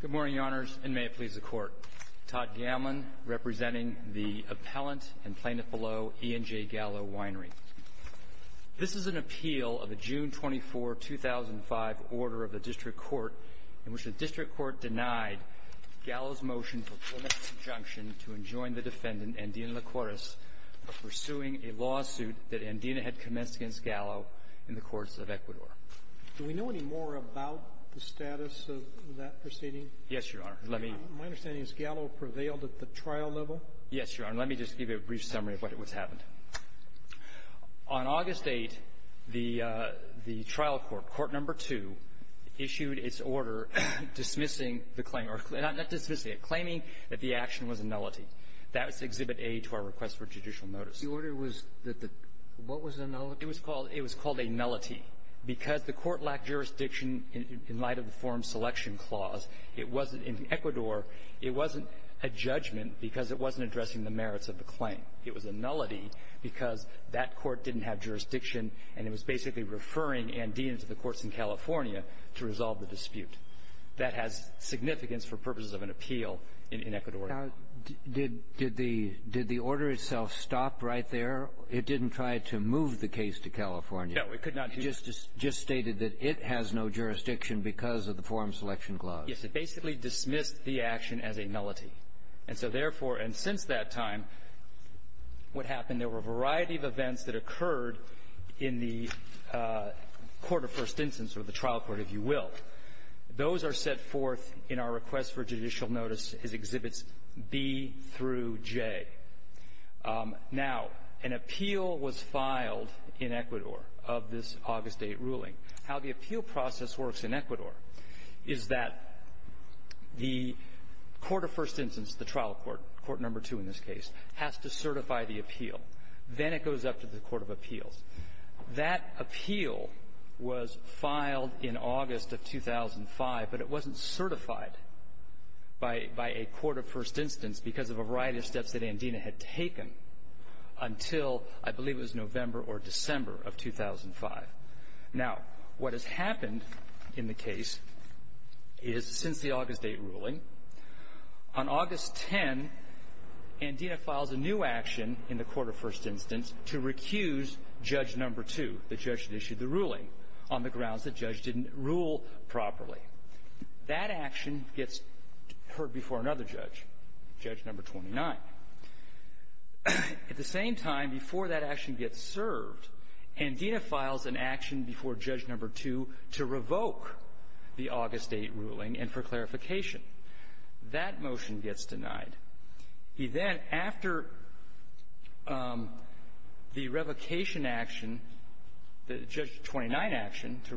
Good morning, Your Honors, and may it please the Court. Todd Gamlin, representing the appellant and plaintiff below, E&J Gallo Winery. This is an appeal of a June 24, 2005, order of the District Court in which the District Court denied Gallo's motion for preliminary subjunction to enjoin the defendant, Andina Licores, of pursuing a lawsuit that Andina had commenced against Gallo in the courts of Ecuador. Do we know any more about the status of that proceeding? Yes, Your Honor. Let me — My understanding is Gallo prevailed at the trial level? Yes, Your Honor. Let me just give you a brief summary of what has happened. On August 8, the trial court, Court No. 2, issued its order dismissing the claim — not dismissing it, claiming that the action was a nullity. That was Exhibit A to our request for judicial notice. The order was that the — what was the nullity? It was called — it was called a nullity because the court lacked jurisdiction in light of the forum selection clause. It wasn't — in Ecuador, it wasn't a judgment because it wasn't addressing the merits of the claim. It was a nullity because that court didn't have jurisdiction, and it was basically referring Andina to the courts in California to resolve the dispute. That has significance for purposes of an appeal in Ecuador. Now, did — did the — did the order itself stop right there? It didn't try to move the case to California. No, it could not. It just — just stated that it has no jurisdiction because of the forum selection clause. Yes. It basically dismissed the action as a nullity. And so, therefore, and since that time, what happened, there were a variety of events that occurred in the court of first instance or the trial court, if you will. Those are set forth in our request for judicial notice as Exhibits B through J. Now, an appeal was filed in Ecuador of this August 8 ruling. How the appeal process works in Ecuador is that the court of first instance, the trial court, Court Number 2 in this case, has to certify the appeal. Then it goes up to the court of appeals. That appeal was filed in August of 2005, but it wasn't certified by — by a court of first instance because of a variety of steps that Andina had taken until, I believe, it was November or December of 2005. Now, what has happened in the case is, since the August 8 ruling, on August 10, Andina files a new action in the court of first instance to recuse Judge Number 2, the judge that issued the ruling, on the grounds the judge didn't rule properly. That action gets heard before another judge, Judge Number 29. At the same time, before that action gets served, Andina files an action before Judge Number 2 to revoke the August 8 ruling and for clarification. That motion gets denied. He then, after the revocation action, the Judge 29 action, to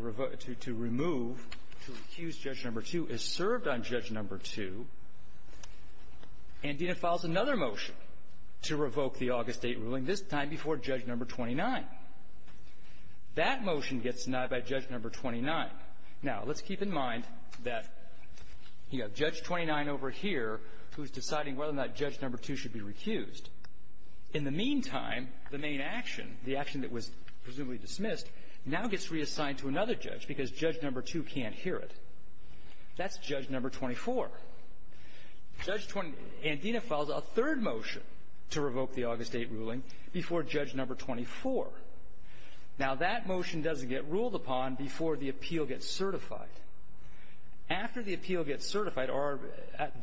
remove, to recuse Judge Number 2, is served on Judge Number 2. Andina files another motion to revoke the August 8 ruling, this time before Judge Number 29. That motion gets denied by Judge Number 29. Now, let's keep in mind that you have Judge 29 over here who's deciding whether or not Judge Number 2 should be recused. In the meantime, the main action, the action that was presumably dismissed, now gets reassigned to another judge because Judge Number 2 can't hear it. That's Judge Number 24. Judge 29 – Andina files a third motion to revoke the August 8 ruling before Judge Number 24. Now, that motion doesn't get ruled upon before the appeal gets certified. After the appeal gets certified, or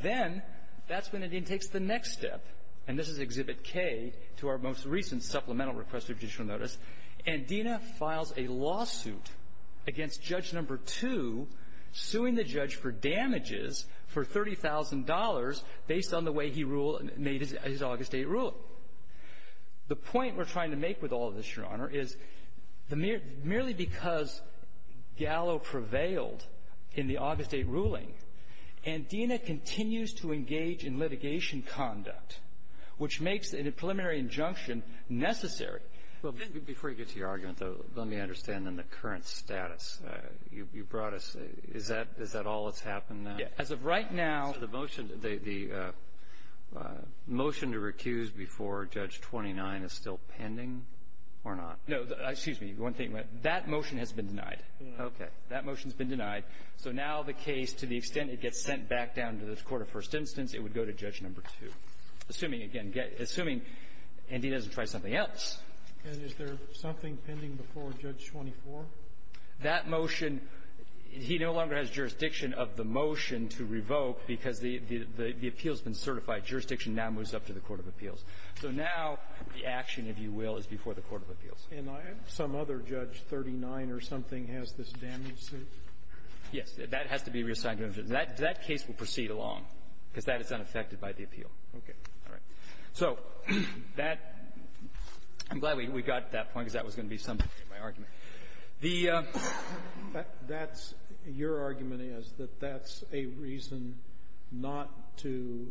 then, that's when Andina takes the next step. And this is Exhibit K to our most recent supplemental request of judicial notice. Andina files a lawsuit against Judge Number 2, suing the judge for damages for $30,000 based on the way he ruled – made his August 8 ruling. The point we're trying to make with all of this, Your Honor, is the mere – merely because Gallo prevailed in the August 8 ruling, Andina continues to engage in litigation conduct, which makes a preliminary injunction necessary. Well, before you get to your argument, though, let me understand, then, the current status. You brought us – is that – is that all that's happened now? Yeah. As of right now – So the motion – the motion to recuse before Judge 29 is still pending or not? No. Excuse me. One thing. That motion has been denied. Okay. That motion's been denied. So now the case, to the extent it gets sent back down to the court of first instance, it would go to Judge Number 2. Assuming, again – assuming Andina doesn't try something else. And is there something pending before Judge 24? That motion, he no longer has jurisdiction of the motion to revoke because the – the appeal's been certified. Jurisdiction now moves up to the court of appeals. So now the action, if you will, is before the court of appeals. And some other Judge 39 or something has this damage suit? Yes. That has to be reassigned. That case will proceed along because that is unaffected by the appeal. Okay. All right. So that – I'm glad we got to that point because that was going to be some of my argument. The – That's – your argument is that that's a reason not to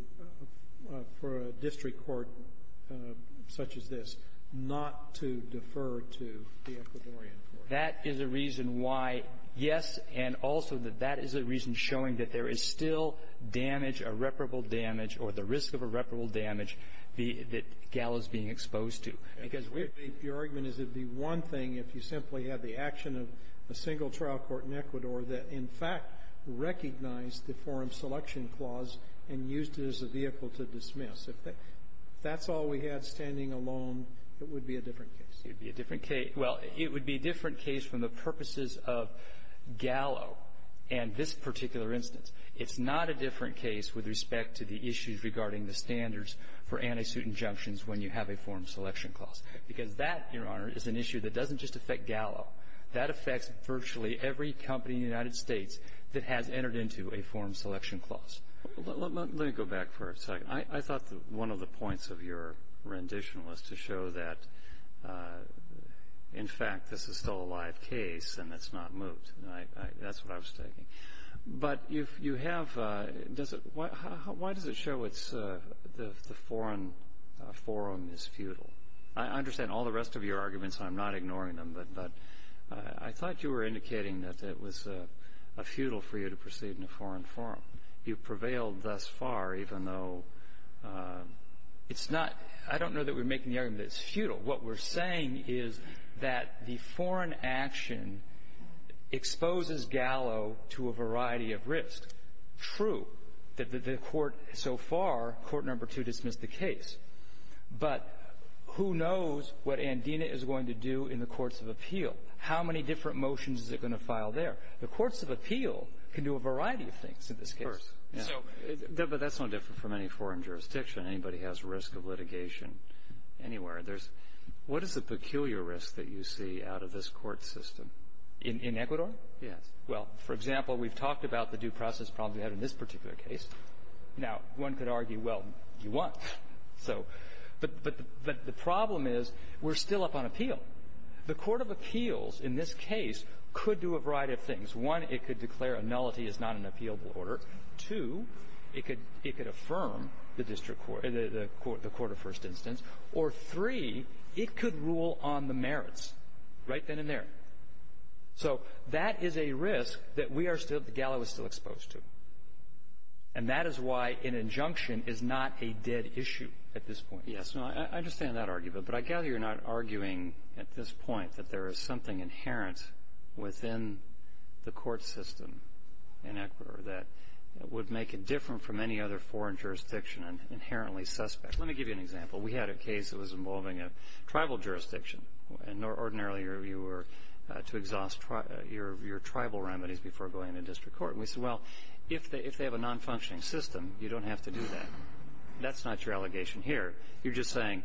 – for a district court such as this not to defer to the Ecuadorian court. That is a reason why, yes, and also that that is a reason showing that there is still damage, irreparable damage, or the risk of irreparable damage, that Gallo's being exposed to. Because we're – Your argument is it'd be one thing if you simply had the action of a single trial court in Ecuador that, in fact, recognized the forum selection clause and used it as a vehicle to dismiss. If that's all we had standing alone, it would be a different case. It would be a different case. Well, it would be a different case from the purposes of Gallo and this particular instance. It's not a different case with respect to the issues regarding the standards for anti-suit injunctions when you have a forum selection clause. Because that, Your Honor, is an issue that doesn't just affect Gallo. That affects virtually every company in the United States that has entered into a forum selection clause. Let me go back for a second. I thought that one of the points of your rendition was to show that, in fact, this is still a live case and it's not moved. And I – that's what I was thinking. But you have – does it – why does it show it's – the foreign forum is futile? I understand all the rest of your arguments, and I'm not ignoring them, but I thought you were indicating that it was futile for you to proceed in a foreign forum. You've prevailed thus far, even though it's not – I don't know that we're making the argument that it's futile. But what we're saying is that the foreign action exposes Gallo to a variety of risks. True. The court – so far, Court Number 2 dismissed the case. But who knows what Andina is going to do in the courts of appeal? How many different motions is it going to file there? The courts of appeal can do a variety of things in this case. Of course. So – but that's no different from any foreign jurisdiction. Anybody has risk of litigation anywhere. There's – what is the peculiar risk that you see out of this court system? In Ecuador? Yes. Well, for example, we've talked about the due process problem we had in this particular case. Now, one could argue, well, you want – so – but the problem is we're still up on appeal. The court of appeals in this case could do a variety of things. One, it could declare a nullity is not an appealable order. Two, it could – it could affirm the district court – the court of first instance. Or three, it could rule on the merits right then and there. So that is a risk that we are still – that Gallo is still exposed to. And that is why an injunction is not a dead issue at this point. Yes. No, I understand that argument. But I gather you're not arguing at this point that there is something inherent within the court system in Ecuador that would make it different from any other foreign jurisdiction and inherently suspect. Let me give you an example. We had a case that was involving a tribal jurisdiction. And ordinarily, you were to exhaust your tribal remedies before going into district court. And we said, well, if they have a non-functioning system, you don't have to do that. That's not your allegation here. You're just saying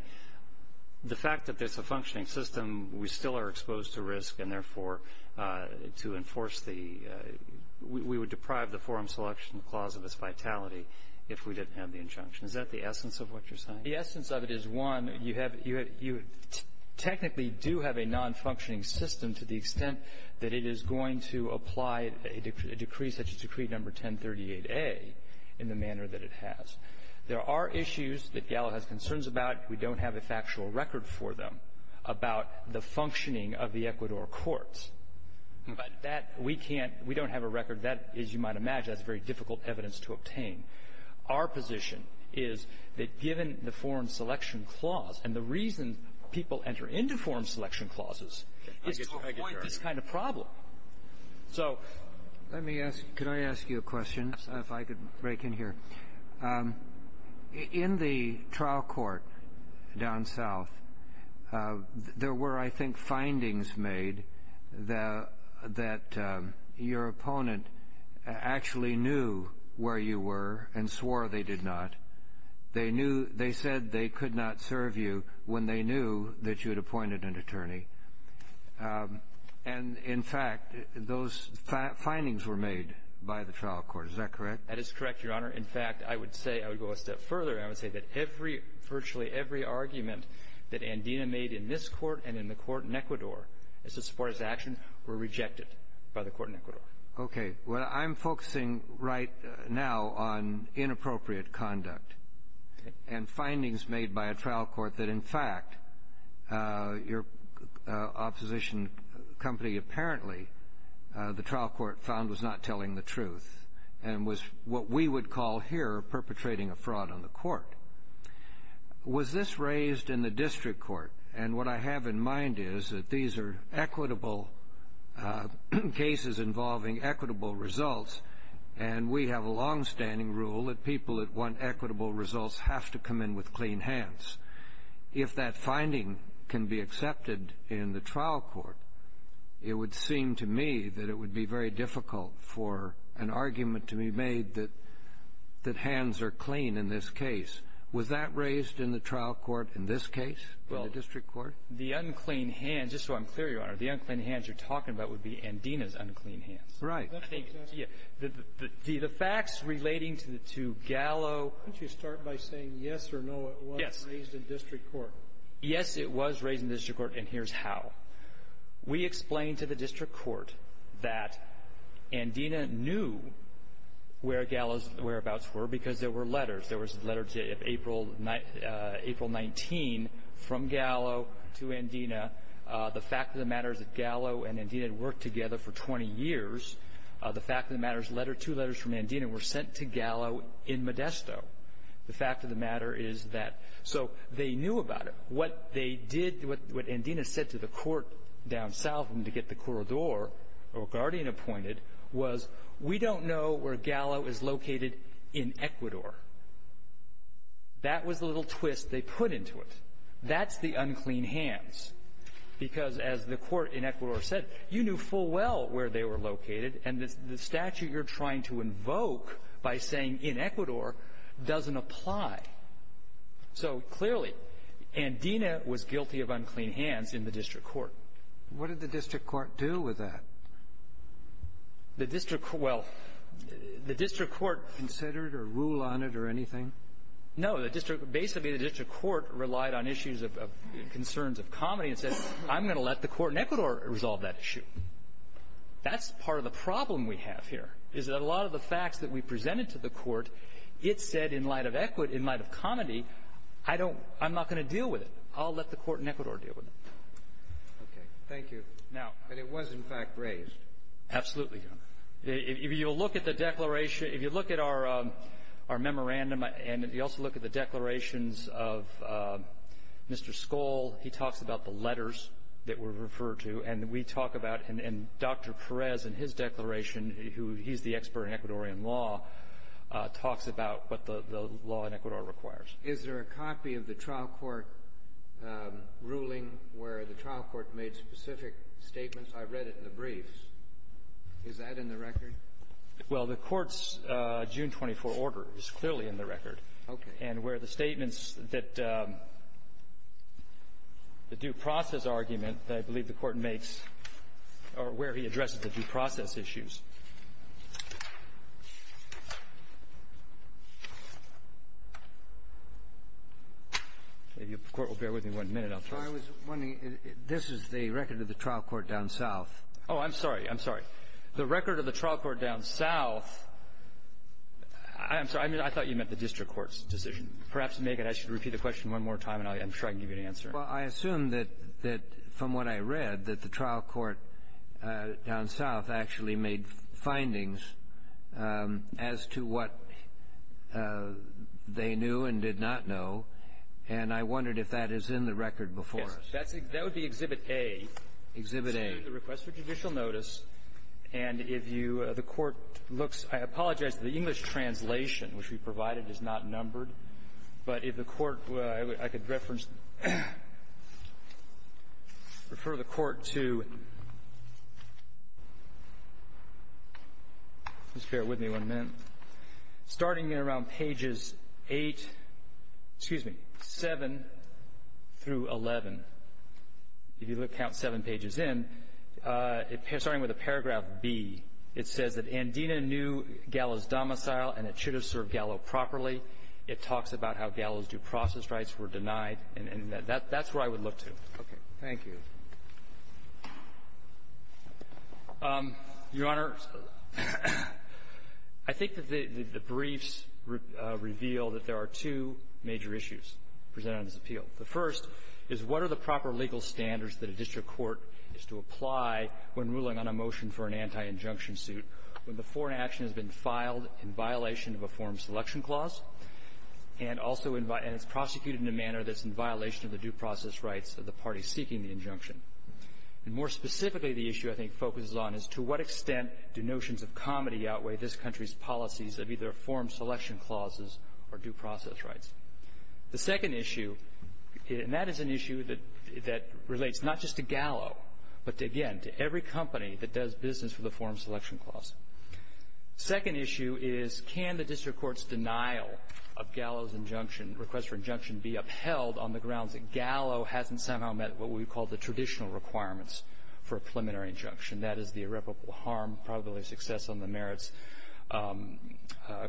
the fact that there's a functioning system, we still are exposed to risk and, therefore, to enforce the – we would deprive the forum selection clause of its vitality if we didn't have the injunction. Is that the essence of what you're saying? The essence of it is, one, you have – you technically do have a non-functioning system to the extent that it is going to apply a decree such as Decree No. 1038A in the manner that it has. There are issues that Gallo has concerns about. We don't have a factual record for them about the functioning of the Ecuador courts. But that – we can't – we don't have a record. That, as you might imagine, that's very difficult evidence to obtain. Our position is that given the forum selection clause, and the reason people enter into forum selection clauses is to avoid this kind of problem. So let me ask – could I ask you a question, if I could break in here? In the trial court down south, there were, I think, findings made that your opponent actually knew where you were and swore they did not. They knew – they said they could not serve you when they knew that you had appointed an attorney. And, in fact, those findings were made by the trial court. Is that correct? That is correct, Your Honor. In fact, I would say – I would go a step further. I would say that every – virtually every argument that Andina made in this court and in the court in Ecuador as to support his action were rejected by the court in Ecuador. Okay. Well, I'm focusing right now on inappropriate conduct and findings made by a trial court that, in fact, your opposition company apparently – the trial court found was not telling the truth and was what we would call here perpetrating a fraud on the court. Was this raised in the district court? And what I have in mind is that these are equitable cases involving equitable results, and we have a longstanding rule that people that want equitable results have to come in with clean hands. If that finding can be accepted in the trial court, it would seem to me that it would be very difficult for an argument to be made that hands are clean in this case. Was that raised in the trial court in this case, in the district court? Well, the unclean hands – just so I'm clear, Your Honor, the unclean hands you're talking about would be Andina's unclean hands. Right. I think – yeah. The facts relating to Gallo – Why don't you start by saying yes or no it was raised in district court? Yes, it was raised in district court, and here's how. We explained to the district court that Andina knew where Gallo's whereabouts were because there were letters. There was a letter to April 19 from Gallo to Andina. The fact of the matter is that Gallo and Andina had worked together for 20 years. The fact of the matter is two letters from Andina were sent to Gallo in Modesto. The fact of the matter is that – so they knew about it. What they did – what Andina said to the court down south to get the corridor or guardian appointed was, we don't know where Gallo is located in Ecuador. That was the little twist they put into it. That's the unclean hands. Because as the court in Ecuador said, you knew full well where they were located, and the statute you're trying to invoke by saying in Ecuador doesn't apply. So clearly, Andina was guilty of unclean hands in the district court. What did the district court do with that? The district – well, the district court – Considered or rule on it or anything? No, the district – basically, the district court relied on issues of – concerns of comedy and said, I'm going to let the court in Ecuador resolve that issue. That's part of the problem we have here, is that a lot of the facts that we presented to the court, it said in light of comedy, I don't – I'm not going to deal with it. I'll let the court in Ecuador deal with it. Thank you. But it was, in fact, raised. Absolutely, Your Honor. If you look at the declaration – if you look at our memorandum, and if you also look at the declarations of Mr. Skoll, he talks about the letters that were referred to. And we talk about – and Dr. Perez, in his declaration, who – he's the expert in Ecuadorian law, talks about what the law in Ecuador requires. Is there a copy of the trial court ruling where the trial court made specific statements? I read it in the briefs. Is that in the record? Well, the Court's June 24 order is clearly in the record. Okay. And where the statements that – the due process argument that I believe the Court makes – or where he addresses the due process issues. If the Court will bear with me one minute, I'll try. I was wondering – this is the record of the trial court down south. Oh, I'm sorry. I'm sorry. The record of the trial court down south – I'm sorry. I thought you meant the district court's decision. Perhaps, Megan, I should repeat the question one more time, and I'm sure I can give you an answer. Well, I assume that, from what I read, that the trial court down south actually made findings as to what they knew and did not know. And I wondered if that is in the record before us. That would be Exhibit A. Exhibit A. The request for judicial notice, and if you – the Court looks – I apologize. The English translation, which we provided, is not numbered. But if the Court – I could reference – refer the Court to – please bear with me one minute – starting around pages 8 – excuse me – 7 through 11. If you count 7 pages in, starting with a paragraph B, it says that Andina knew Gallo's domicile and it should have served Gallo properly. It talks about how Gallo's due process rights were denied. And that's where I would look to. Okay. Thank you. Your Honor, I think that the briefs reveal that there are two major issues presented on this appeal. The first is, what are the proper legal standards that a district court is to apply when ruling on a motion for an anti-injunction suit when the foreign action has been filed in violation of a form selection clause, and also in – and it's prosecuted in a manner that's in violation of the due process rights of the party seeking the injunction? And more specifically, the issue I think focuses on is, to what extent do notions of comedy outweigh this country's policies of either form selection clauses or due process rights? The second issue, and that is an issue that relates not just to Gallo, but again, to every company that does business with a form selection clause. Second issue is, can the district court's denial of Gallo's injunction, request for injunction, be upheld on the grounds that Gallo hasn't somehow met what we would call the traditional requirements for a preliminary injunction? That is, the irreparable harm, probability of success on the merits,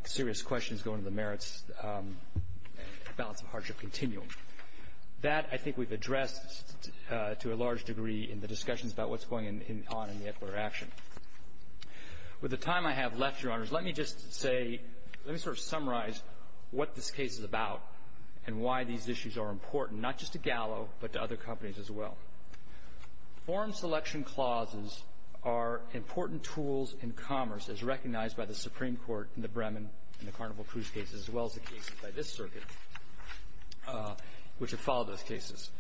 serious questions going to the merits, balance of hardship continuum. That, I think, we've addressed to a large degree in the discussions about what's going on in the Ecuador action. With the time I have left, Your Honors, let me just say – let me sort of summarize what this case is about and why these issues are important, not just to Gallo, but to other companies as well. Form selection clauses are important tools in commerce, as recognized by the Supreme Court in the Bremen and the Carnival Cruise cases, as well as the cases by this circuit, which have followed those cases.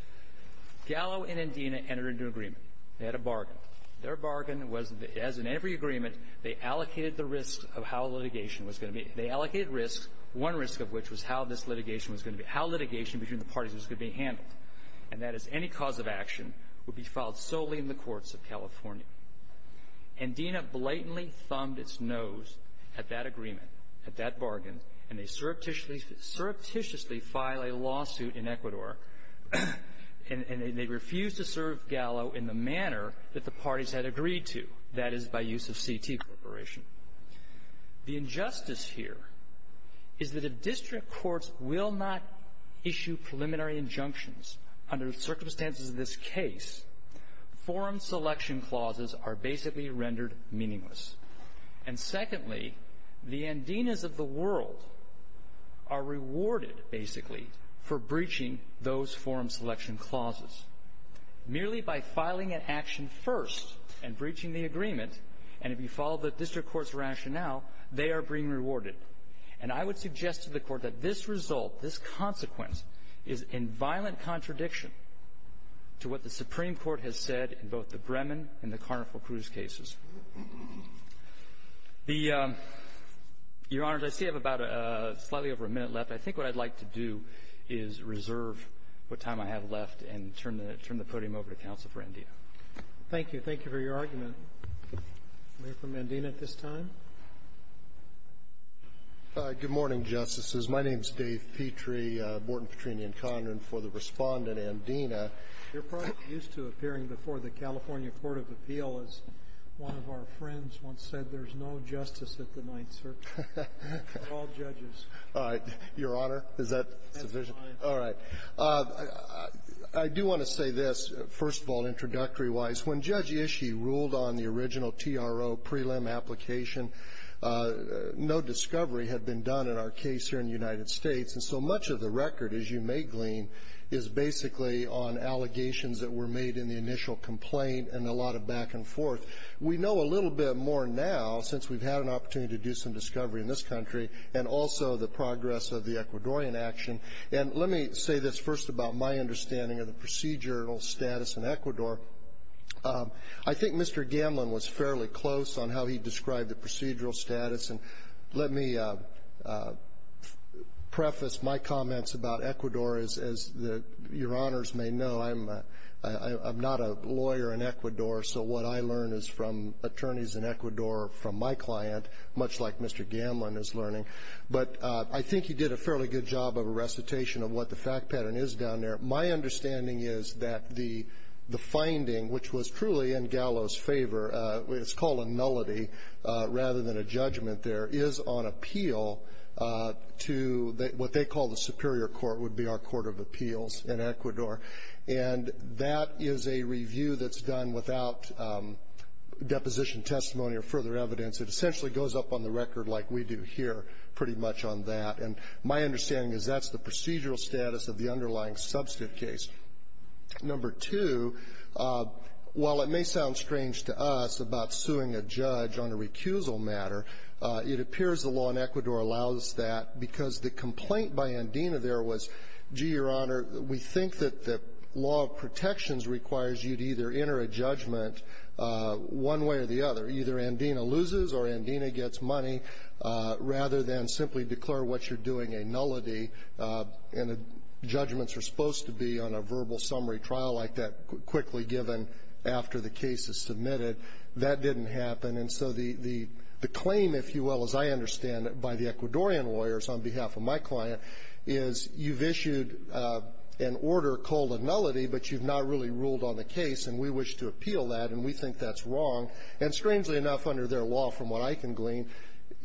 Gallo and Endina entered into an agreement. They had a bargain. Their bargain was that, as in every agreement, they allocated the risk of how litigation was going to be – they allocated risk, one risk of which was how this litigation was going to be – how litigation between the parties was going to be handled, and that is any cause of action would be filed solely in the courts of California. Endina blatantly thumbed its nose at that agreement, at that bargain, and they surreptitiously filed a lawsuit in Ecuador, and they refused to serve Gallo in the manner that the parties had agreed to, that is, by use of CT Corporation. The injustice here is that if district courts will not issue preliminary injunctions under the circumstances of this case, form selection clauses are basically rendered meaningless. And secondly, the Endinas of the world are rewarded, basically, for breaching those form selection clauses. Merely by filing an action first and breaching the agreement, and if you follow the district court's rationale, they are being rewarded. And I would suggest to the Court that this result, this consequence, is in violent contradiction to what the Supreme Court has said in both the Brehman and the Carnifle Cruz cases. The – Your Honors, I see I have about a – slightly over a minute left. I think what I'd like to do is reserve what time I have left and turn the – turn the podium over to counsel for Endina. Thank you. Thank you for your argument. I'll hear from Endina at this time. Good morning, Justices. My name is Dave Petrie, a Borton, Petrini, and Conron for the Respondent, Endina. You're probably used to appearing before the California Court of Appeal as one of our friends once said, there's no justice at the Ninth Circuit. They're all judges. All right. Your Honor, is that sufficient? That's fine. All right. I do want to say this, first of all, introductory-wise. When Judge Ishii ruled on the original TRO prelim application, no discovery had been done in our case here in the United States. And so much of the record, as you may glean, is basically on allegations that were made in the initial complaint and a lot of back and forth. We know a little bit more now, since we've had an opportunity to do some discovery in this country, and also the progress of the Ecuadorian action. And let me say this first about my understanding of the procedural status in I think Mr. Gamlin was fairly close on how he described the procedural status. And let me preface my comments about Ecuador, as your Honors may know, I'm not a lawyer in Ecuador, so what I learn is from attorneys in Ecuador, from my client, much like Mr. Gamlin is learning. But I think he did a fairly good job of a recitation of what the fact pattern is down there. My understanding is that the finding, which was truly in Gallo's favor, it's called a nullity rather than a judgment there, is on appeal to what they call the superior court, would be our court of appeals in Ecuador. And that is a review that's done without deposition testimony or further evidence. It essentially goes up on the record like we do here pretty much on that. And my understanding is that's the procedural status of the underlying substantive case. Number two, while it may sound strange to us about suing a judge on a recusal matter, it appears the law in Ecuador allows that because the complaint by Andina there was, gee, your Honor, we think that the law of protections requires you to either enter a judgment one way or the other. Either Andina loses or Andina gets money, rather than simply declare what you're doing a nullity. And the judgments are supposed to be on a verbal summary trial like that quickly given after the case is submitted. That didn't happen. And so the claim, if you will, as I understand it by the Ecuadorian lawyers on behalf of my client, is you've issued an order called a nullity, but you've not really ruled on the case. And we wish to appeal that. And we think that's wrong. And strangely enough, under their law, from what I can glean,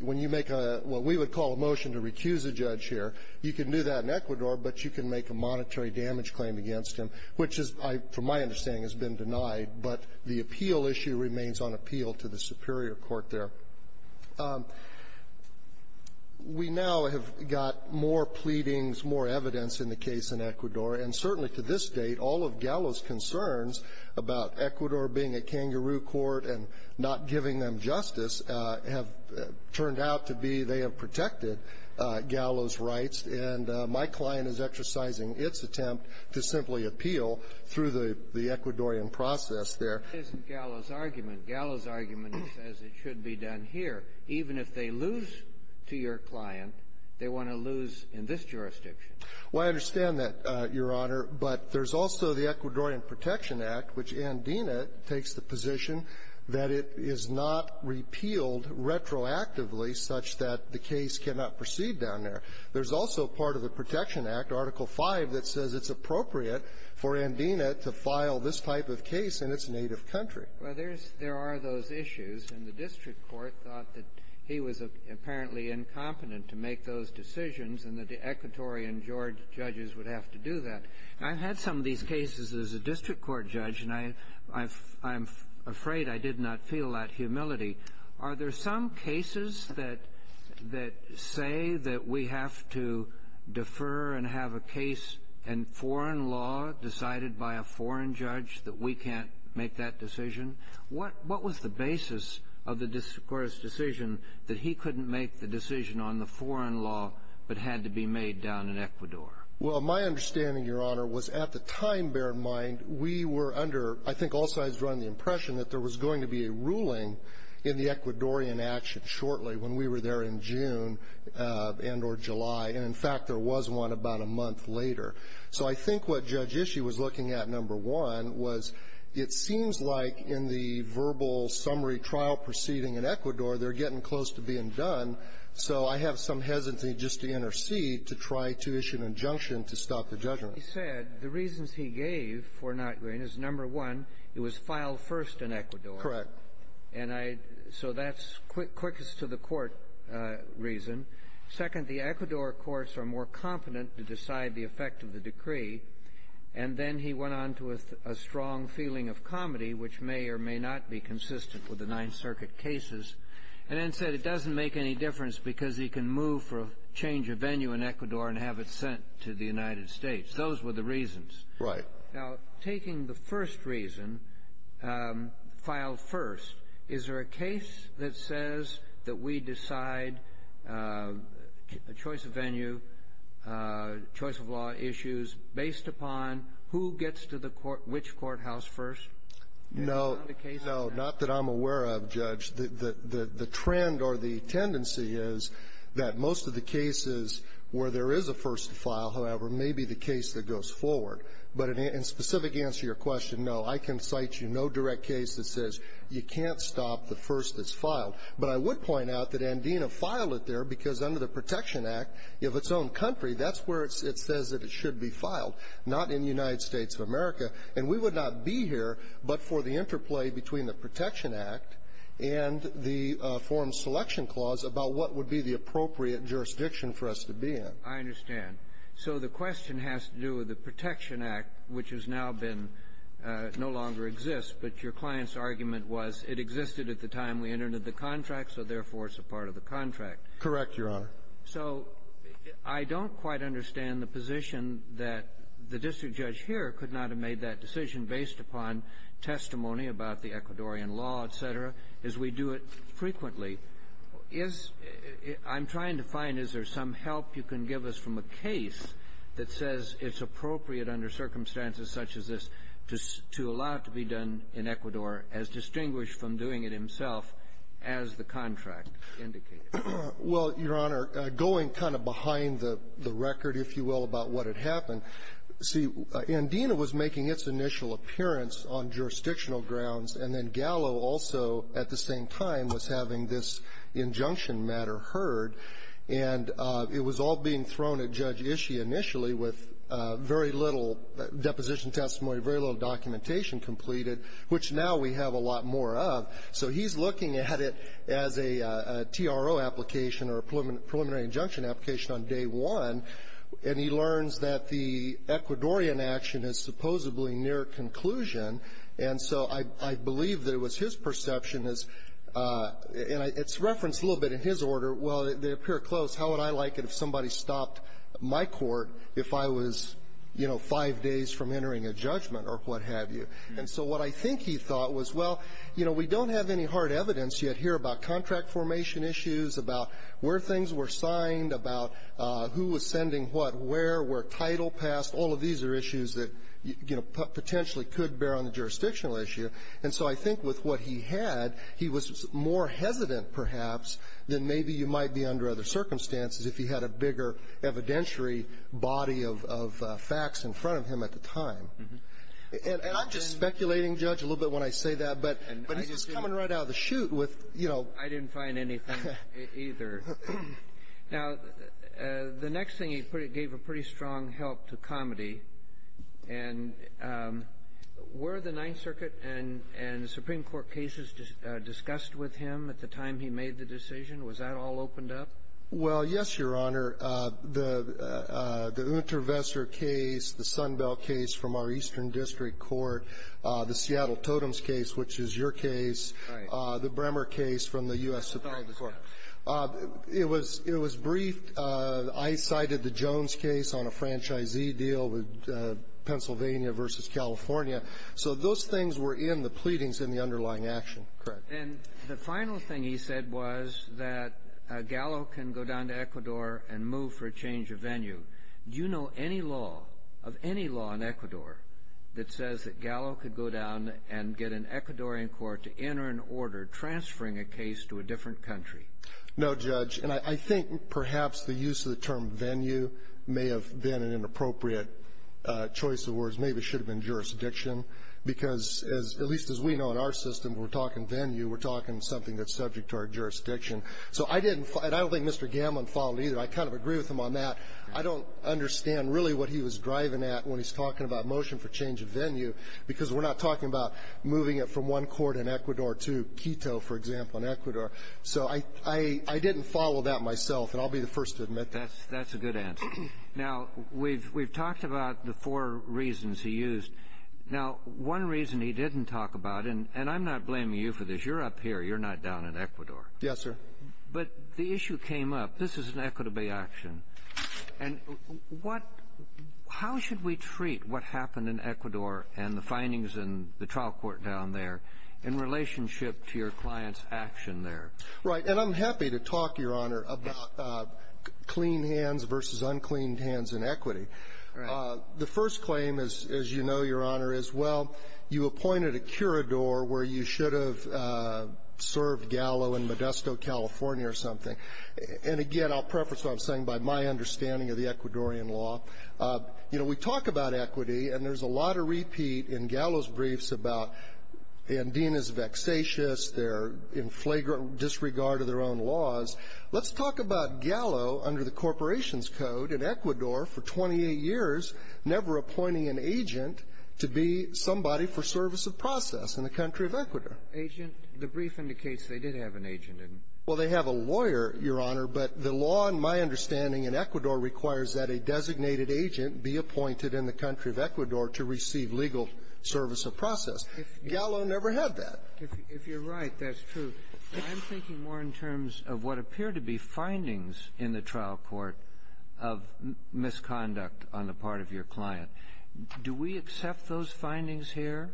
when you make a what we would call a motion to recuse a judge here, you can do that in Ecuador, but you can make a monetary damage claim against him, which is, from my understanding, has been denied. But the appeal issue remains on appeal to the superior court there. We now have got more pleadings, more evidence in the case in Ecuador. And certainly to this date, all of Gallo's concerns about Ecuador being a kangaroo court and not giving them justice have turned out to be they have protected Gallo's rights. And my client is exercising its attempt to simply appeal through the Ecuadorian process there. But that isn't Gallo's argument. Gallo's argument is as it should be done here. Even if they lose to your client, they want to lose in this jurisdiction. Well, I understand that, Your Honor. But there's also the Ecuadorian Protection Act, which Andina takes the position that it is not repealed retroactively such that the case cannot proceed down there. There's also part of the Protection Act, Article V, that says it's appropriate for Andina to file this type of case in its native country. Well, there's – there are those issues. And the district court thought that he was apparently incompetent to make those decisions, and the Ecuadorian judges would have to do that. I've had some of these cases as a district court judge, and I'm afraid I did not feel that humility. Are there some cases that say that we have to defer and have a case in foreign law decided by a foreign judge that we can't make that decision? What was the basis of the district court's decision that he couldn't make the decision on the foreign law but had to be made down in Ecuador? Well, my understanding, Your Honor, was at the time, bear in mind, we were under – I think also I was drawing the impression that there was going to be a ruling in the Ecuadorian action shortly when we were there in June and or July. And in fact, there was one about a month later. So I think what Judge Ishii was looking at, number one, was it seems like in the verbal summary trial proceeding in Ecuador, they're getting close to being done. So I have some hesitancy just to intercede, to try to issue an injunction to stop the judgment. He said the reasons he gave for not going is, number one, it was filed first in Ecuador. Correct. And I – so that's quickest to the court reason. Second, the Ecuador courts are more confident to decide the effect of the decree. And then he went on to a strong feeling of comedy, which may or may not be consistent with the Ninth Circuit cases. And then said it doesn't make any difference because he can move for a change of venue in Ecuador and have it sent to the United States. Those were the reasons. Right. Now, taking the first reason, filed first, is there a case that says that we decide a choice of venue, choice of law issues, based upon who gets to the court – which courthouse first? No. Not that I'm aware of, Judge. The trend or the tendency is that most of the cases where there is a first file, however, may be the case that goes forward. But in specific answer to your question, no. I can cite you no direct case that says you can't stop the first that's filed. But I would point out that Andina filed it there because under the Protection Act, if it's own country, that's where it says that it should be filed. Not in the United States of America. And we would not be here but for the interplay between the Protection Act and the forum selection clause about what would be the appropriate jurisdiction for us to be in. I understand. So the question has to do with the Protection Act, which has now been – no longer exists, but your client's argument was it existed at the time we entered the contract, so therefore it's a part of the contract. Correct, Your Honor. So I don't quite understand the position that the district judge here could not have made that decision based upon testimony about the Ecuadorian law, et cetera, as we do it frequently. Is – I'm trying to find is there some help you can give us from a case that says it's appropriate under circumstances such as this to allow it to be done in Ecuador as distinguished from doing it himself as the contract indicated. Well, Your Honor, going kind of behind the record, if you will, about what had happened, see, Andina was making its initial appearance on jurisdictional grounds, and then Gallo also at the same time was having this injunction matter heard, and it was all being thrown at Judge Ishii initially with very little deposition testimony, very little documentation completed, which now we have a lot more of. So he's looking at it as a TRO application or a preliminary injunction application on day one, and he learns that the Ecuadorian action is supposedly near conclusion. And so I believe that it was his perception as – and it's referenced a little bit in his order, well, they appear close. How would I like it if somebody stopped my court if I was, you know, five days from entering a judgment or what have you? And so what I think he thought was, well, you know, we don't have any hard evidence yet here about contract formation issues, about where things were signed, about who was sending what, where, where title passed. All of these are issues that, you know, potentially could bear on the jurisdictional issue. And so I think with what he had, he was more hesitant, perhaps, than maybe you might be under other circumstances if he had a bigger evidentiary body of facts in front of him at the time. And I'm just speculating, Judge, a little bit when I say that, but he's coming right out of the chute with, you know – I didn't find anything either. Now, the next thing, he gave a pretty strong help to comedy. And were the Ninth Circuit and the Supreme Court cases discussed with him at the time he made the decision? Was that all opened up? Well, yes, Your Honor. The Unterwesser case, the Sunbell case from our Eastern District Court, the Seattle Totems case, which is your case, the Bremer case from the U.S. Supreme Court, it was – it was briefed. I cited the Jones case on a franchisee deal with Pennsylvania v. California. So those things were in the pleadings in the underlying action. Correct. And the final thing he said was that Gallo can go down to Ecuador and move for a change of venue. Do you know any law, of any law in Ecuador, that says that Gallo could go down and get an Ecuadorian court to enter an order transferring a case to a different country? No, Judge. And I think perhaps the use of the term venue may have been an inappropriate choice of words. Maybe it should have been jurisdiction, because as – at least as we know in our system, we're talking venue, we're talking something that's subject to our jurisdiction. So I didn't – and I don't think Mr. Gamlin followed either. I kind of agree with him on that. I don't understand really what he was driving at when he's talking about motion for change of venue, because we're not talking about moving it from one court in Ecuador to Quito, for example, in Ecuador. So I didn't follow that myself, and I'll be the first to admit that. That's a good answer. Now, we've talked about the four reasons he used. Now, one reason he didn't talk about – and I'm not blaming you for this. You're up here. You're not down in Ecuador. Yes, sir. But the issue came up. This is an Ecuador Bay action. And what – how should we treat what happened in Ecuador and the findings in the trial court down there in relationship to your client's action there? And I'm happy to talk, Your Honor, about clean hands versus uncleaned hands in equity. Right. The first claim, as you know, Your Honor, is, well, you appointed a curador where you And, again, I'll preface what I'm saying by my understanding of the Ecuadorian law. You know, we talk about equity, and there's a lot of repeat in Gallo's briefs about Andina's vexatious, their inflagrant disregard of their own laws. Let's talk about Gallo, under the corporation's code, in Ecuador for 28 years, never appointing an agent to be somebody for service of process in the country of Ecuador. Agent – the brief indicates they did have an agent in – Well, they have a lawyer, Your Honor, but the law, in my understanding, in Ecuador requires that a designated agent be appointed in the country of Ecuador to receive legal service of process. Gallo never had that. If you're right, that's true. I'm thinking more in terms of what appear to be findings in the trial court of misconduct on the part of your client. Do we accept those findings here?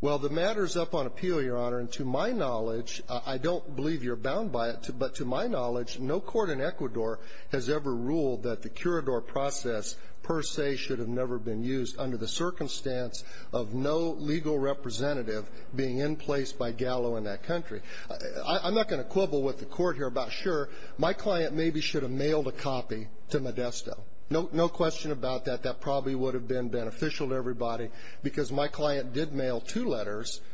Well, the matter's up on appeal, Your Honor. And to my knowledge, I don't believe you're bound by it, but to my knowledge, no court in Ecuador has ever ruled that the curador process per se should have never been used under the circumstance of no legal representative being in place by Gallo in that country. I'm not going to quibble with the court here about, sure, my client maybe should have mailed a copy to Modesto. No question about that. That probably would have been beneficial to everybody, because my client did mail two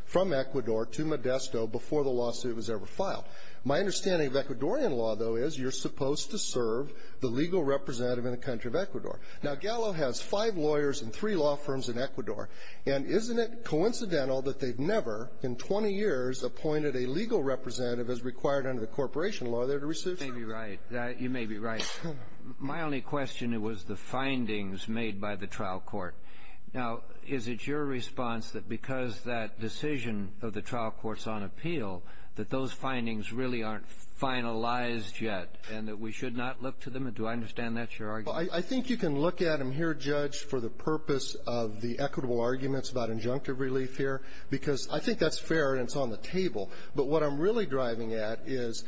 from Ecuador to Modesto before the lawsuit was ever filed. My understanding of Ecuadorian law, though, is you're supposed to serve the legal representative in the country of Ecuador. Now, Gallo has five lawyers and three law firms in Ecuador. And isn't it coincidental that they've never, in 20 years, appointed a legal representative as required under the corporation law there to receive? You may be right. You may be right. My only question was the findings made by the trial court. Now, is it your response that because that decision of the trial court's on appeal, that those findings really aren't finalized yet, and that we should not look to them? Do I understand that's your argument? Well, I think you can look at them here, Judge, for the purpose of the equitable arguments about injunctive relief here, because I think that's fair and it's on the table. But what I'm really driving at is,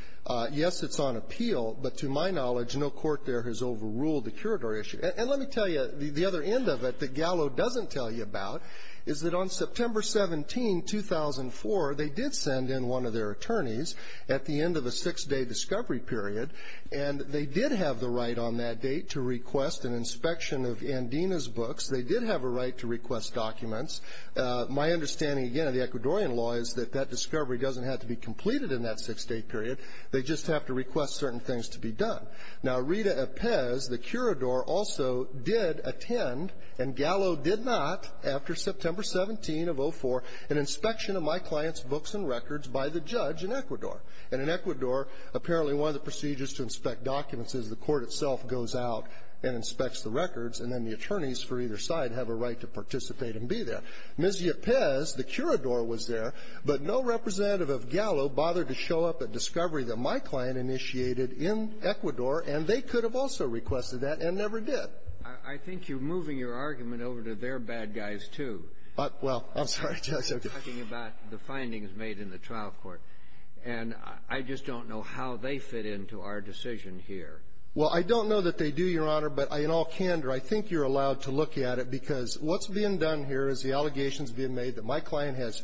yes, it's on appeal, but to my knowledge, no court there has overruled the curador issue. And let me tell you, the other end of it that Gallo doesn't tell you about is that on September 17, 2004, they did send in one of their attorneys at the end of a six-day discovery period. And they did have the right on that date to request an inspection of Andina's books. They did have a right to request documents. My understanding, again, of the Ecuadorian law is that that discovery doesn't have to be completed in that six-day period. They just have to request certain things to be done. Now, Rita Epez, the curador, also did attend, and Gallo did not, after September 17 of 2004, an inspection of my client's books and records by the judge in Ecuador. And in Ecuador, apparently one of the procedures to inspect documents is the court itself goes out and inspects the records, and then the attorneys for either side have a right to participate and be there. Ms. Epez, the curador, was there, but no representative of Gallo bothered to show up at discovery that my client initiated in Ecuador, and they could have also requested that and never did. I think you're moving your argument over to their bad guys, too. Well, I'm sorry, Judge. I'm talking about the findings made in the trial court. And I just don't know how they fit into our decision here. Well, I don't know that they do, Your Honor, but in all candor, I think you're allowed to look at it because what's being done here is the allegations being made that my client has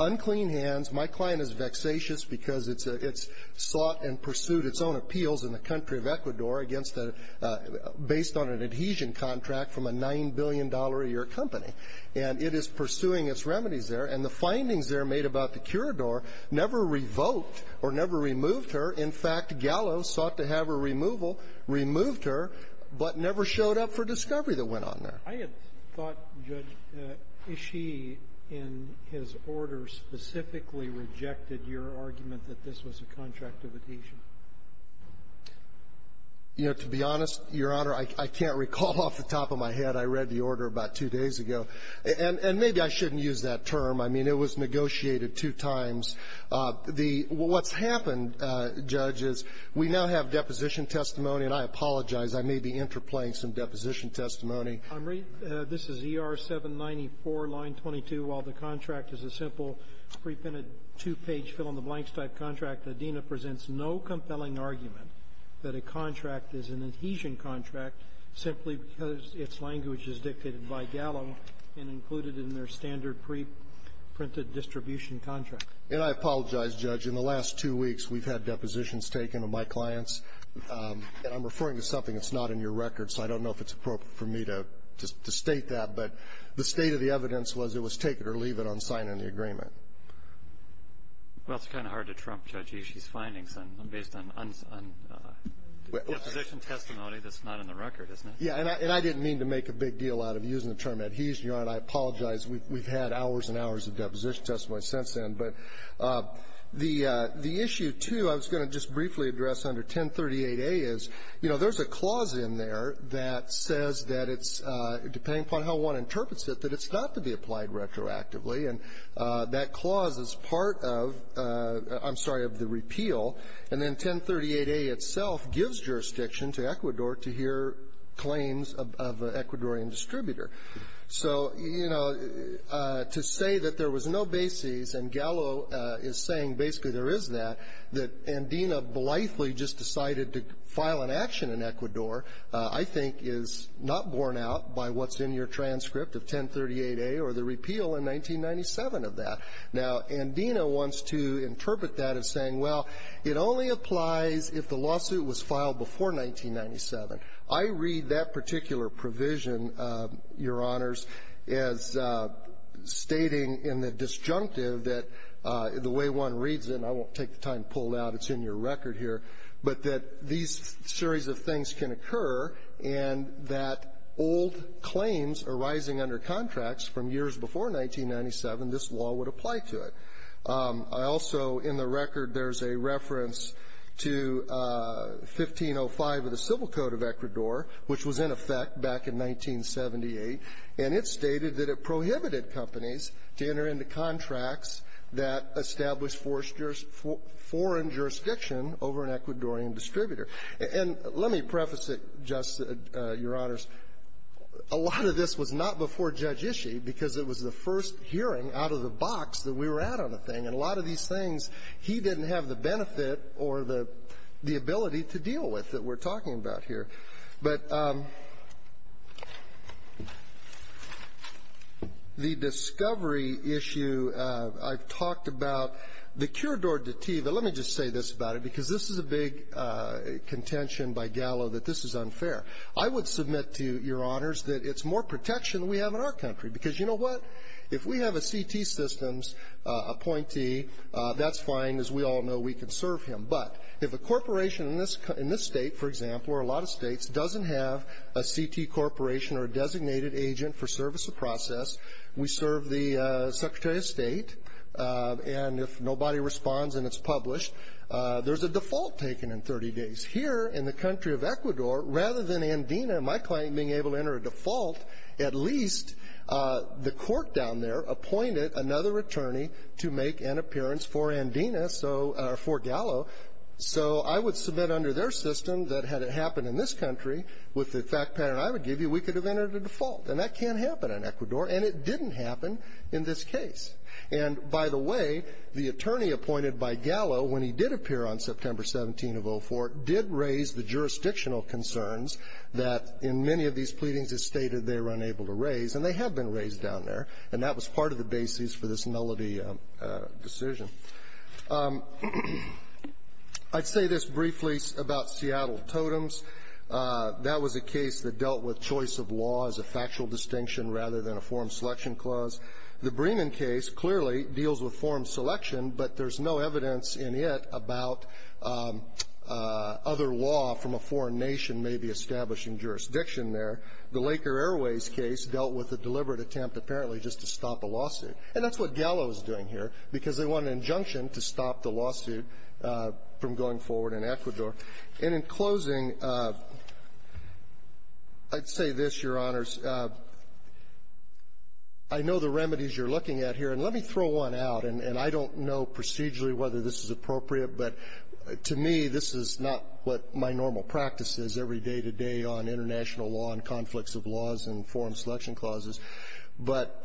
unclean hands, my client is vexatious because it's a – it's sought and pursued its own appeals in the country of Ecuador against a – based on an adhesion contract from a $9 billion-a-year company. And it is pursuing its remedies there. And the findings there made about the curador never revoked or never removed her. In fact, Gallo sought to have a removal, removed her, but never showed up for discovery that went on there. I had thought, Judge, that Ishii, in his order, specifically rejected your argument that this was a contract of adhesion. You know, to be honest, Your Honor, I can't recall off the top of my head. I read the order about two days ago. And maybe I shouldn't use that term. I mean, it was negotiated two times. The – what's happened, Judge, is we now have deposition testimony, and I apologize. I may be interplaying some deposition testimony. I'm reading – this is ER-794, line 22. While the contract is a simple preprinted two-page fill-in-the-blanks-type contract, Adena presents no compelling argument that a contract is an adhesion contract simply because its language is dictated by Gallo and included in their standard preprinted distribution contract. And I apologize, Judge. In the last two weeks, we've had depositions taken of my clients. And I'm referring to something that's not in your record, so I don't know if it's appropriate for me to state that. But the state of the evidence was it was taken or leave it unsigned in the agreement. Well, it's kind of hard to trump, Judge, these findings based on deposition testimony that's not in the record, isn't it? Yeah. And I didn't mean to make a big deal out of using the term adhesion, Your Honor. I apologize. We've had hours and hours of deposition testimony since then. But the issue, too, I was going to just briefly address under 1038A is, you know, there's a clause in there that says that it's, depending upon how one interprets it, that it's not to be applied retroactively. And that clause is part of, I'm sorry, of the repeal. And then 1038A itself gives jurisdiction to Ecuador to hear claims of an Ecuadorian distributor. So, you know, to say that there was no bases, and Gallo is saying basically there is that, that Andina blithely just decided to file an action in Ecuador, I think, is not borne out by what's in your transcript of 1038A or the repeal in 1997 of that. Now, Andina wants to interpret that as saying, well, it only applies if the lawsuit was filed before 1997. I read that particular provision, Your Honors, as stating in the disjunctive that the way one reads it, and I won't take the time to pull it out. It's in your record here. But that these series of things can occur, and that old claims arising under contracts from years before 1997, this law would apply to it. I also, in the record, there's a reference to 1505 of the Civil Code of Ecuador, which was in effect back in 1978. And it stated that it prohibited companies to enter into contracts that established forced foreign jurisdiction over an Ecuadorian distributor. And let me preface it just, Your Honors, a lot of this was not before Judge Ishii, because it was the first hearing out of the box that we were at on the thing. And a lot of these things, he didn't have the benefit or the ability to deal with that we're talking about here. But the discovery issue, I've talked about the curador de ti. But let me just say this about it, because this is a big contention by Gallo that this is unfair. I would submit to Your Honors that it's more protection than we have in our country. Because you know what? If we have a CT systems appointee, that's fine, as we all know, we can serve him. But if a corporation in this state, for example, or a lot of states, doesn't have a CT corporation or a designated agent for service or process, we serve the Secretary of State. And if nobody responds and it's published, there's a default taken in 30 days. Here in the country of Ecuador, rather than Andina, my client, being able to enter a default, at least the court down there appointed another attorney to make an appearance for Andina, or for Gallo. So I would submit under their system that had it happened in this country, with the fact pattern I would give you, we could have entered a default. And that can't happen in Ecuador, and it didn't happen in this case. And by the way, the attorney appointed by Gallo, when he did appear on September 17 of 04, did raise the jurisdictional concerns that in many of these pleadings it stated they were unable to raise, and they have been raised down there. And that was part of the basis for this nullity decision. I'd say this briefly about Seattle Totems. That was a case that dealt with choice of law as a factual distinction, rather than a form selection clause. The Bremen case clearly deals with form selection, but there's no evidence in it about other law from a foreign nation maybe establishing jurisdiction there. The Laker Airways case dealt with a deliberate attempt, apparently, just to stop a lawsuit. And that's what Gallo is doing here, because they want an injunction to stop the lawsuit from going forward in Ecuador. And in closing, I'd say this, Your Honors. I know the remedies you're looking at here, and let me throw one out. And I don't know procedurally whether this is appropriate, but to me, this is not what my normal practice is every day-to-day on international law and conflicts of laws and form selection clauses. But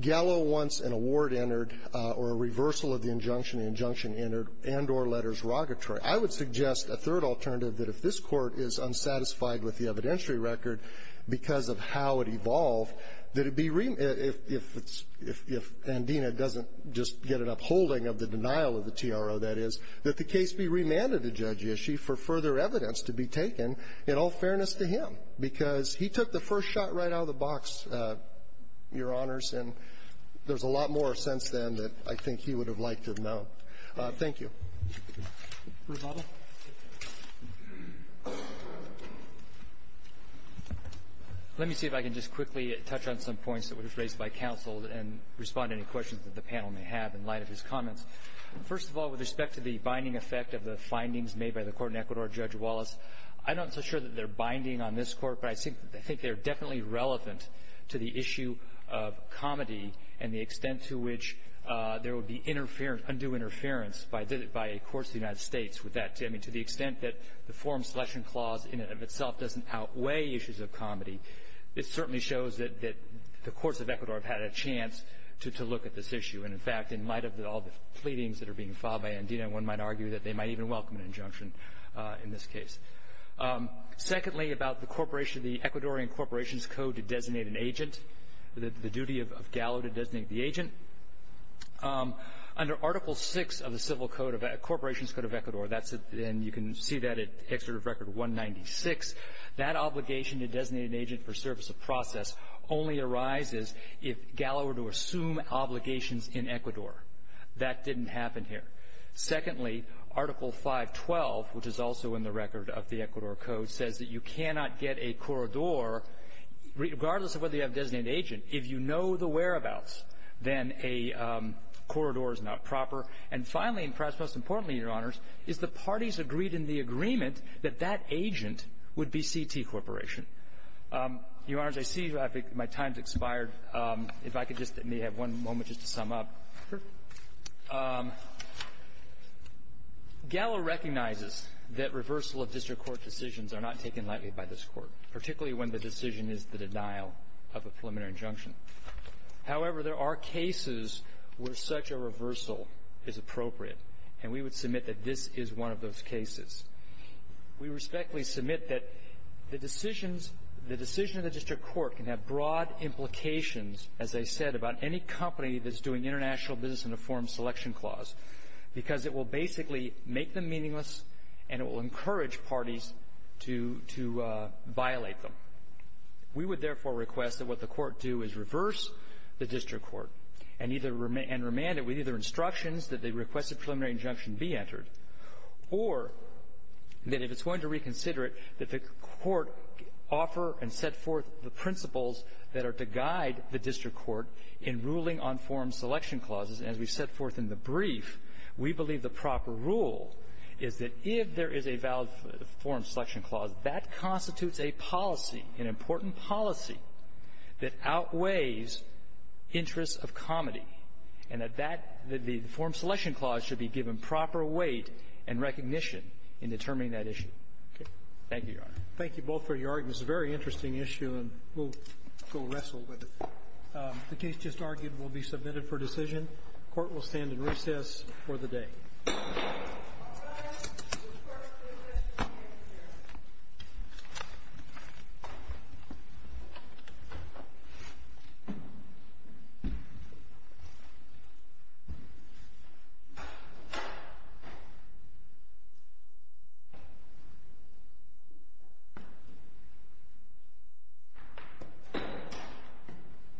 Gallo wants an award entered or a reversal of the injunction, the injunction entered, and or letters derogatory. I would suggest a third alternative, that if this Court is unsatisfied with the evidentiary record because of how it evolved, that it be remanded. If Andina doesn't just get an upholding of the denial of the TRO, that is, that the case be remanded to Judge Ishii for further evidence to be taken, in all fairness to him, because he took the first shot right out of the box, Your Honors, and there's a lot more since then that I think he would have liked to have known. Thank you. First of all, let me see if I can just quickly touch on some points that were raised by counsel and respond to any questions that the panel may have in light of his comments. First of all, with respect to the binding effect of the findings made by the Court in Ecuador, Judge Wallace, I'm not so sure that they're binding on this Court, but I think they're definitely relevant to the issue of comedy and the extent to which there would be interference, undue interference by a court in the United States with that, I mean, to the extent that the form selection clause in and of itself doesn't outweigh issues of comedy. It certainly shows that the courts of Ecuador have had a chance to look at this issue. And in fact, in light of all the pleadings that are being filed by Andina, one might argue that they might even welcome an injunction in this case. Secondly, about the Ecuadorian Corporation's Code to designate an agent, the duty of Gallo to designate the agent, under Article VI of the Civil Code of the Corporation's Code of Ecuador, and you can see that at Excerpt of Record 196, that obligation to designate an agent for service of process only arises if Gallo were to assume obligations in Ecuador. That didn't happen here. Secondly, Article 512, which is also in the record of the Ecuador Code, says that you cannot get a corridor, regardless of whether you have a designated agent, if you know the whereabouts, then a corridor is not proper. And finally, and perhaps most importantly, Your Honors, is the parties agreed in the agreement that that agent would be CT Corporation. Your Honors, I see my time's expired. If I could just have one moment just to sum up. Gallo recognizes that reversal of district court decisions are not taken lightly by this Court, particularly when the decision is the denial of a preliminary injunction. However, there are cases where such a reversal is appropriate, and we would submit that this is one of those cases. We respectfully submit that the decisions, the decision of the district court can have broad implications, as I said, about any company that's doing international business in a form selection clause, because it will basically make them meaningless and it will encourage parties to violate them. We would therefore request that what the court do is reverse the district court and either, and remand it with either instructions that the requested preliminary injunction be entered, or that if it's going to reconsider it, that the court offer and set forth the principles that are to guide the district court in ruling on form selection clauses. As we set forth in the brief, we believe the proper rule is that if there is a valid form selection clause, that constitutes a policy, an important policy that outweighs interests of comity, and that that the form selection clause should be given proper weight and recognition in determining that issue. Thank you, Your Honor. Roberts. Thank you both for your arguments. It's a very interesting issue, and we'll go wrestle with it. The case just argued will be submitted for decision. The Court will stand in recess for the day. All rise. The court will recess for the day, Your Honor.